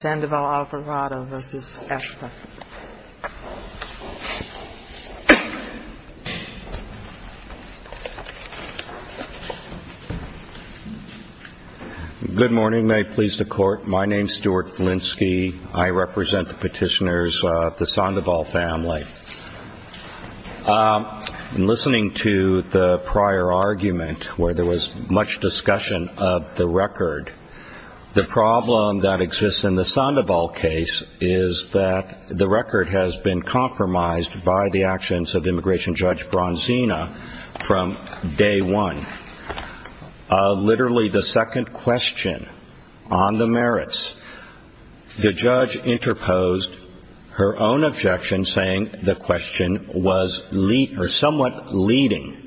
Good morning. May it please the Court, my name is Stuart Flinsky. I represent the petitioners, the Sandoval family. In listening to the prior argument, where there was much discussion of the record, the problem that exists in the Sandoval case is that the record has been compromised by the actions of immigration judge Bronzina from day one. Literally the second question on the merits, the judge interposed her own objection saying the question was somewhat leading.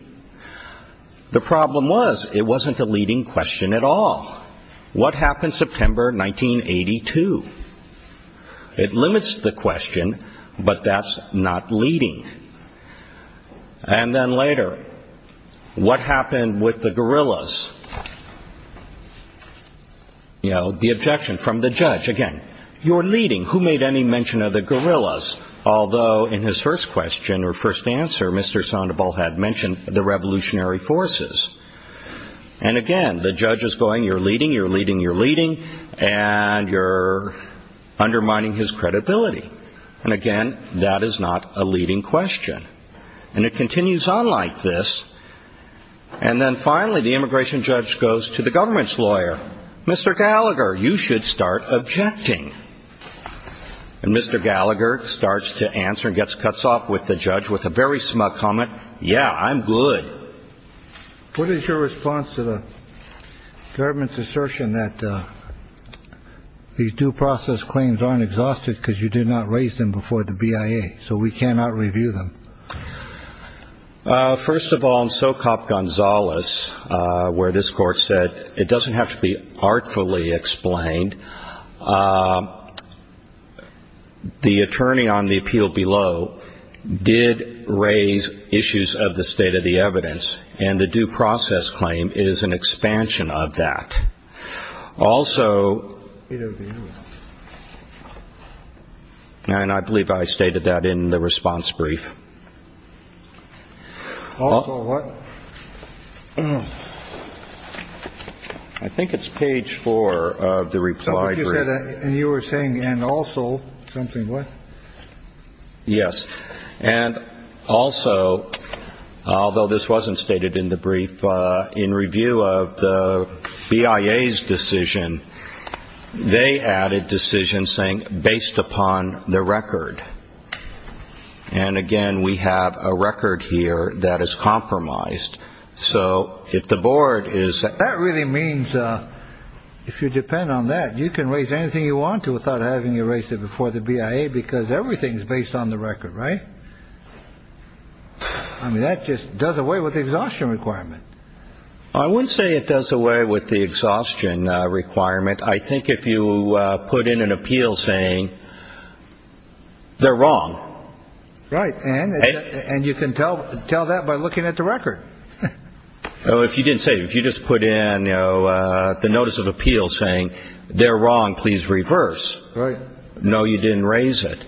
The problem was it wasn't a leading question at all. What happened September 1982? It limits the question, but that's not leading. And then later, what happened with the gorillas? You know, the objection from the judge, again, you're leading, who made any mention of the gorillas? Although in his first question or first answer, Mr. Sandoval had mentioned the revolutionary forces. And again, the judge is going, you're leading, you're leading, you're leading, and you're undermining his credibility. And again, that is not a leading question. And it continues on like this. And then finally, the immigration judge goes to the government's lawyer, Mr. Gallagher, you should start objecting. And Mr. Gallagher starts to answer and gets cuts off with the judge with a very smug comment. Yeah, I'm good. What is your response to the government's assertion that these due process claims aren't exhausted because you did not raise them before the BIA? So we cannot review them. First of all, in Socop Gonzales, where this Court said it doesn't have to be artfully explained, the attorney on the appeal below did raise issues of the state of the evidence. And the due process claim is an expansion of that. Also. And I believe I stated that in the response brief. I think it's page four of the reply. And you were saying and also something. Yes. And also, although this wasn't stated in the brief in review of the BIA's decision, they added decision saying based upon the record. And again, we have a record here that is compromised. So if the board is that really means if you depend on that, you can raise anything you want to without having erased it before the BIA, because everything is based on the record. Right. I mean, that just does away with the exhaustion requirement. I would say it does away with the exhaustion requirement. I think if you put in an appeal saying they're wrong. Right. And and you can tell tell that by looking at the record. Oh, if you didn't say if you just put in the notice of appeal saying they're wrong, please reverse. Right. No, you didn't raise it.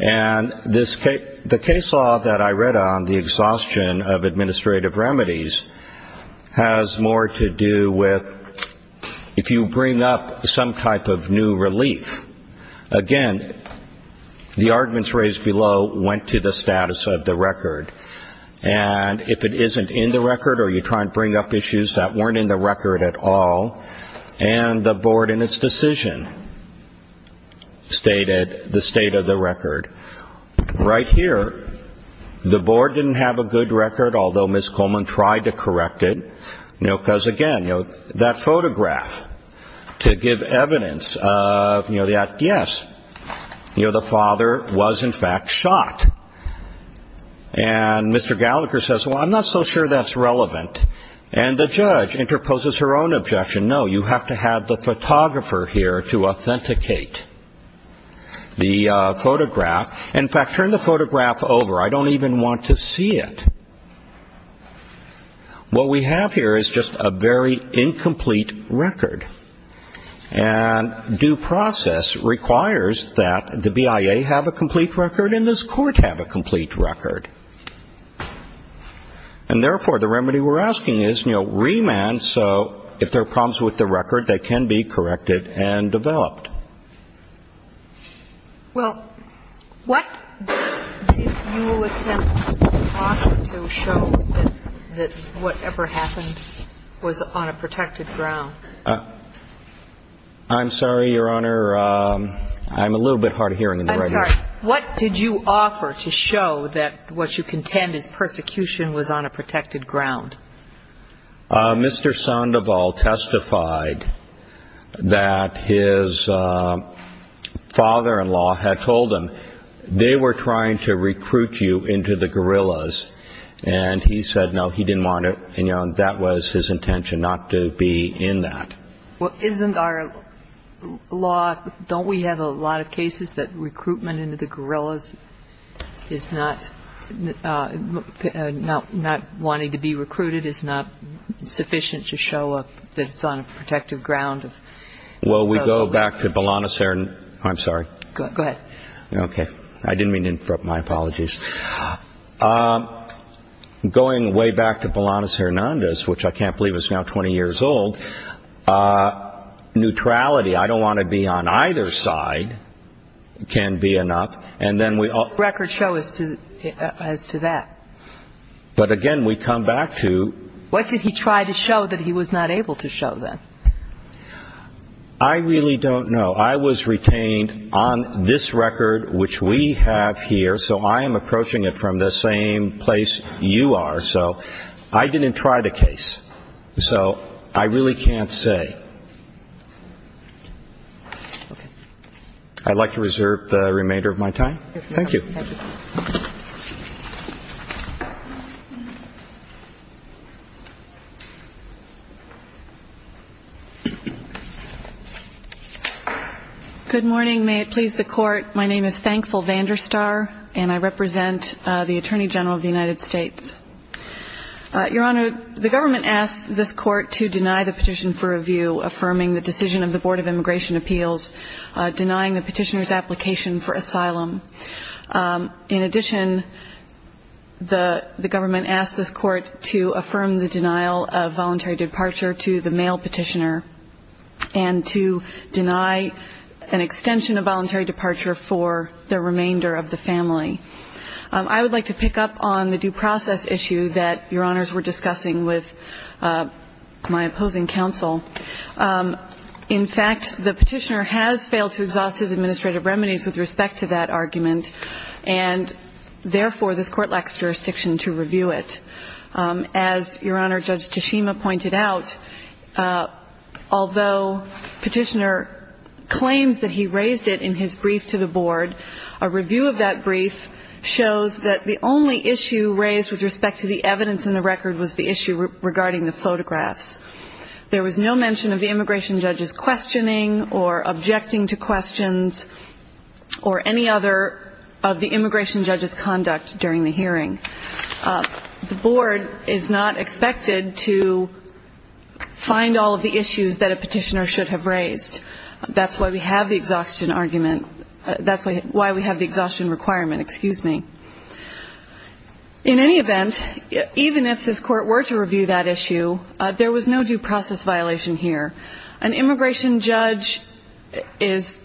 And this case, the case law that I read on the exhaustion of administrative remedies has more to do with if you bring up some type of new relief. Again, the arguments raised below went to the status of the record. And if it isn't in the record or you try and bring up issues that weren't in the record at all, and the board in its decision stated the state of the record. Right here, the board didn't have a good record, although Ms. Coleman tried to correct it. You know, because, again, you know, that photograph to give evidence of, you know, that, yes, you know, the father was in fact shot. And Mr. Gallagher says, well, I'm not so sure that's relevant. And the judge interposes her own objection. No, you have to have the photographer here to authenticate the photograph. In fact, turn the photograph over. I don't even want to see it. What we have here is just a very incomplete record. And due process requires that the BIA have a complete record and this Court have a complete record. And, therefore, the remedy we're asking is, you know, remand so if there are problems with the record, they can be corrected and developed. Well, what did you attempt to show that whatever happened was on a protected ground? I'm sorry, Your Honor. I'm a little bit hard of hearing in the right ear. I'm sorry. What did you offer to show that what you contend is persecution was on a protected ground? Mr. Sandoval testified that his father-in-law had told him they were trying to recruit you into the guerrillas. And he said, no, he didn't want to. And, you know, that was his intention, not to be in that. Well, isn't our law, don't we have a lot of cases that recruitment into the guerrillas is not wanting to be recruited? It's not sufficient to show that it's on a protected ground? Well, we go back to Bolanos-Hernandez. I'm sorry. Go ahead. Okay. I didn't mean to interrupt. My apologies. Going way back to Bolanos-Hernandez, which I can't believe is now 20 years old, neutrality, I don't want to be on either side, can be enough. Record show as to that. But, again, we come back to. What did he try to show that he was not able to show then? I really don't know. I was retained on this record, which we have here. So I am approaching it from the same place you are. So I didn't try the case. So I really can't say. I'd like to reserve the remainder of my time. Thank you. Good morning. May it please the Court. My name is Thankful Vanderstar, and I represent the Attorney General of the United States. Your Honor, the government asked this Court to deny the petition for review, affirming the decision of the Board of Immigration Appeals, denying the petitioner's application for asylum. In addition, the government asked this Court to affirm the denial of voluntary departure to the male petitioner and to deny an extension of voluntary departure for the remainder of the family. I would like to pick up on the due process issue that Your Honors were discussing with my opposing counsel. In fact, the petitioner has failed to exhaust his administrative remedies with respect to that argument, and therefore this Court lacks jurisdiction to review it. As Your Honor, Judge Tshishima pointed out, although petitioner claims that he raised it in his brief to the Board, a review of that brief shows that the only issue raised with respect to the evidence in the record was the issue regarding the photographs. There was no mention of the immigration judge's questioning or objecting to questions or any other of the immigration judge's conduct during the hearing. The Board is not expected to find all of the issues that a petitioner should have raised. That's why we have the exhaustion argument. That's why we have the exhaustion requirement, excuse me. In any event, even if this Court were to review that issue, there was no due process violation here. An immigration judge is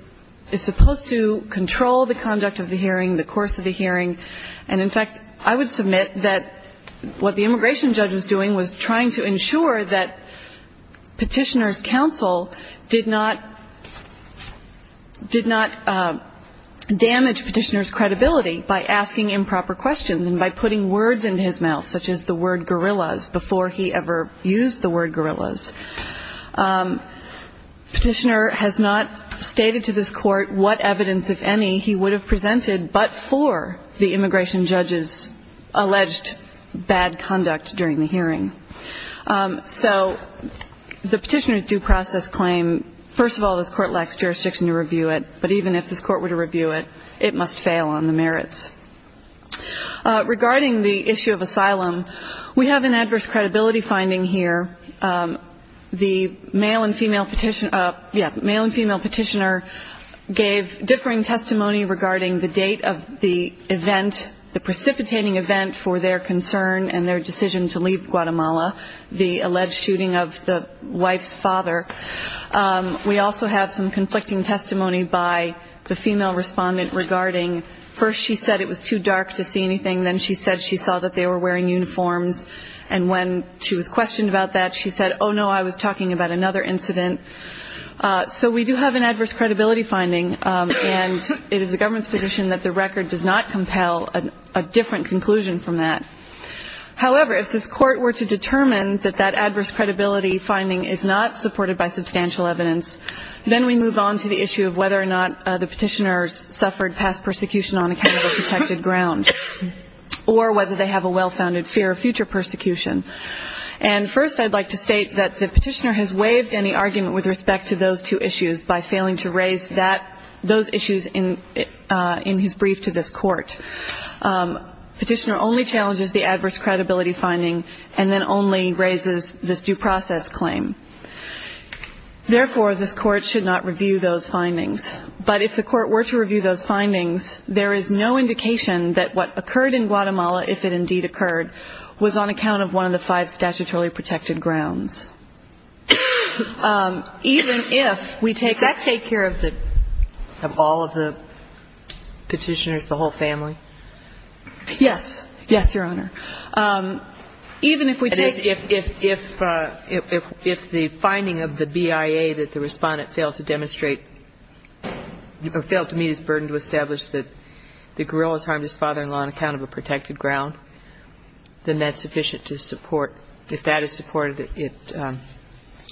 supposed to control the conduct of the hearing, the course of the hearing. And, in fact, I would submit that what the immigration judge was doing was trying to ensure that petitioner's counsel did not damage petitioner's credibility by asking improper questions and by putting words into his mouth, such as the word gorillas, before he ever used the word gorillas. Petitioner has not stated to this Court what evidence, if any, he would have presented, but for the immigration judge's alleged bad conduct during the hearing. So the petitioner's due process claim, first of all, this Court lacks jurisdiction to review it, but even if this Court were to review it, it must fail on the merits. Regarding the issue of asylum, we have an adverse credibility finding here. The male and female petitioner gave differing testimony regarding the date of the event, the precipitating event for their concern and their decision to leave Guatemala, the alleged shooting of the wife's father. We also have some conflicting testimony by the female respondent regarding, first she said it was too dark to see anything, then she said she saw that they were wearing uniforms. And when she was questioned about that, she said, oh, no, I was talking about another incident. So we do have an adverse credibility finding, and it is the government's position that the record does not compel a different conclusion from that. However, if this Court were to determine that that adverse credibility finding is not supported by substantial evidence, then we move on to the issue of whether or not the petitioners suffered past persecution on a kind of a protected ground, or whether they have a well-founded fear of future persecution. And first I'd like to state that the petitioner has waived any argument with respect to those two issues by failing to raise those issues in his brief to this Court. The petitioner only challenges the adverse credibility finding and then only raises this due process claim. Therefore, this Court should not review those findings. But if the Court were to review those findings, there is no indication that what occurred in Guatemala, if it indeed occurred, was on account of one of the five statutorily protected grounds. Even if we take the... Does that take care of all of the petitioners, the whole family? Yes. Yes, Your Honor. Even if we take... If the finding of the BIA that the Respondent failed to demonstrate, failed to meet his burden to establish that the guerrillas harmed his father-in-law on account of a protected ground, then that's sufficient to support, if that is supported, it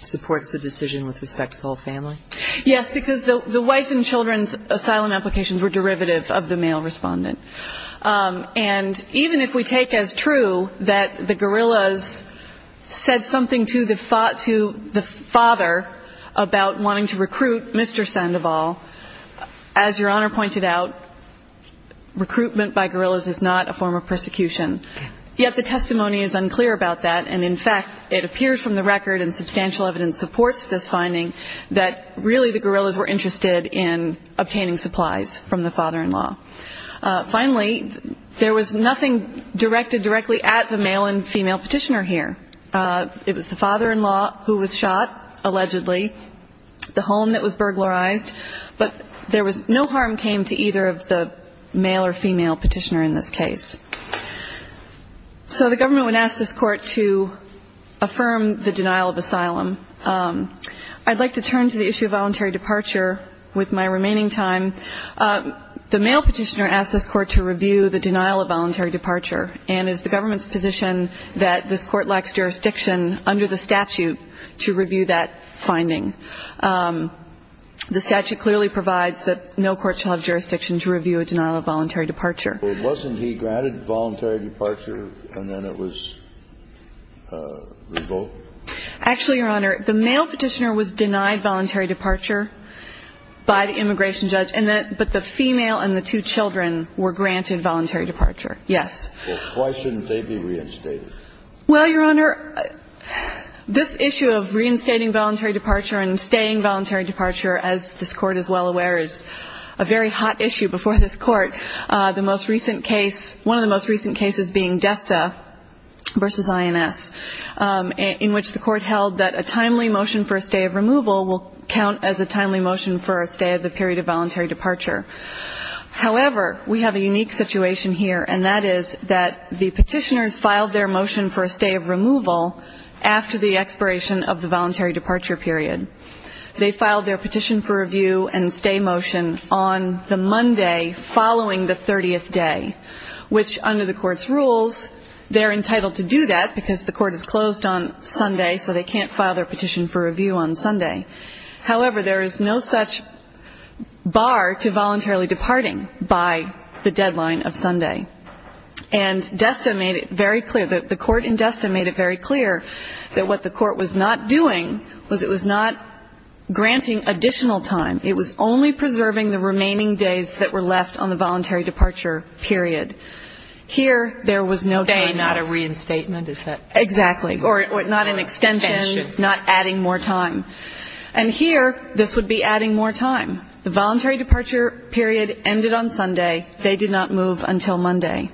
supports the decision with respect to the whole family? Yes, because the wife and children's asylum applications were derivative of the male Respondent. And even if we take as true that the guerrillas said something to the father about wanting to recruit Mr. Sandoval, as Your Honor pointed out, recruitment by guerrillas is not a form of persecution. Yet the testimony is unclear about that. And, in fact, it appears from the record and substantial evidence supports this finding that really the guerrillas were interested in obtaining supplies from the father-in-law. Finally, there was nothing directed directly at the male and female petitioner here. It was the father-in-law who was shot, allegedly. The home that was burglarized. But there was no harm came to either of the male or female petitioner in this case. So the government would ask this court to affirm the denial of asylum. I'd like to turn to the issue of voluntary departure with my remaining time. The male petitioner asked this court to review the denial of voluntary departure and is the government's position that this court lacks jurisdiction under the statute to review that finding. The statute clearly provides that no court shall have jurisdiction to review a denial of voluntary departure. But wasn't he granted voluntary departure and then it was revoked? Actually, Your Honor, the male petitioner was denied voluntary departure by the immigration judge, but the female and the two children were granted voluntary departure, yes. Well, why shouldn't they be reinstated? Well, Your Honor, this issue of reinstating voluntary departure and staying voluntary departure, as this Court is well aware, is a very hot issue before this Court. The most recent case, one of the most recent cases being Desta v. INS, in which the Court held that a timely motion for a stay of removal will count as a timely motion for a stay of the period of voluntary departure. However, we have a unique situation here, and that is that the petitioners filed their motion for a stay of removal after the expiration of the voluntary departure period. They filed their petition for review and stay motion on the Monday following the 30th day, which under the Court's rules, they're entitled to do that because the Court is closed on Sunday, so they can't file their petition for review on Sunday. However, there is no such bar to voluntarily departing by the deadline of Sunday. And Desta made it very clear, the Court in Desta made it very clear that what the Court was not doing was it was not granting additional time. It was only preserving the remaining days that were left on the voluntary departure period. Here, there was no time. Stay, not a reinstatement, is that? Exactly. Or not an extension, not adding more time. And here, this would be adding more time. The voluntary departure period ended on Sunday. They did not move until Monday.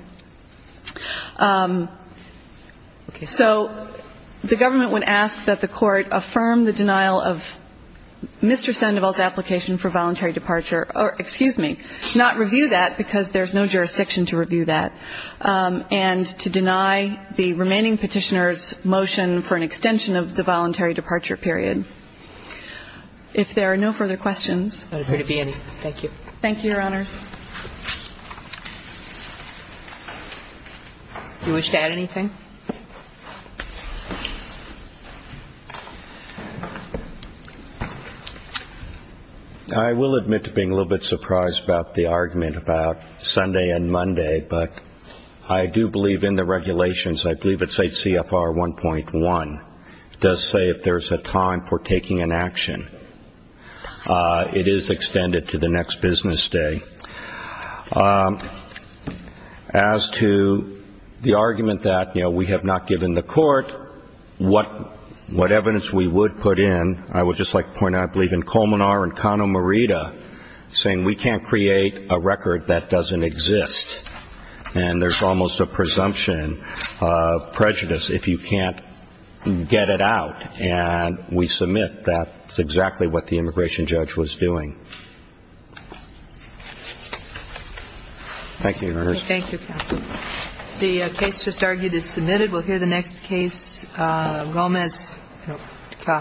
So the government would ask that the Court affirm the denial of Mr. Sandoval's application for voluntary departure, or excuse me, not review that because there's no jurisdiction to review that, and to deny the remaining petitioner's motion for an extension of the voluntary departure period. If there are no further questions. There would be any. Thank you. Thank you, Your Honors. You wish to add anything? I will admit to being a little bit surprised about the argument about Sunday and Monday, but I do believe in the regulations. I believe it's 8 CFR 1.1. It does say if there's a time for taking an action, it is extended to the next business day. As to the argument that, you know, we have not given the Court what evidence we would put in, I would just like to point out I believe in Colmenar and Cano Merida saying we can't create a record that doesn't exist. And there's almost a presumption of prejudice if you can't get it out. And we submit that's exactly what the immigration judge was doing. Thank you, Your Honors. Thank you, Counsel. The case just argued is submitted. We'll hear the next case. Gomez. No.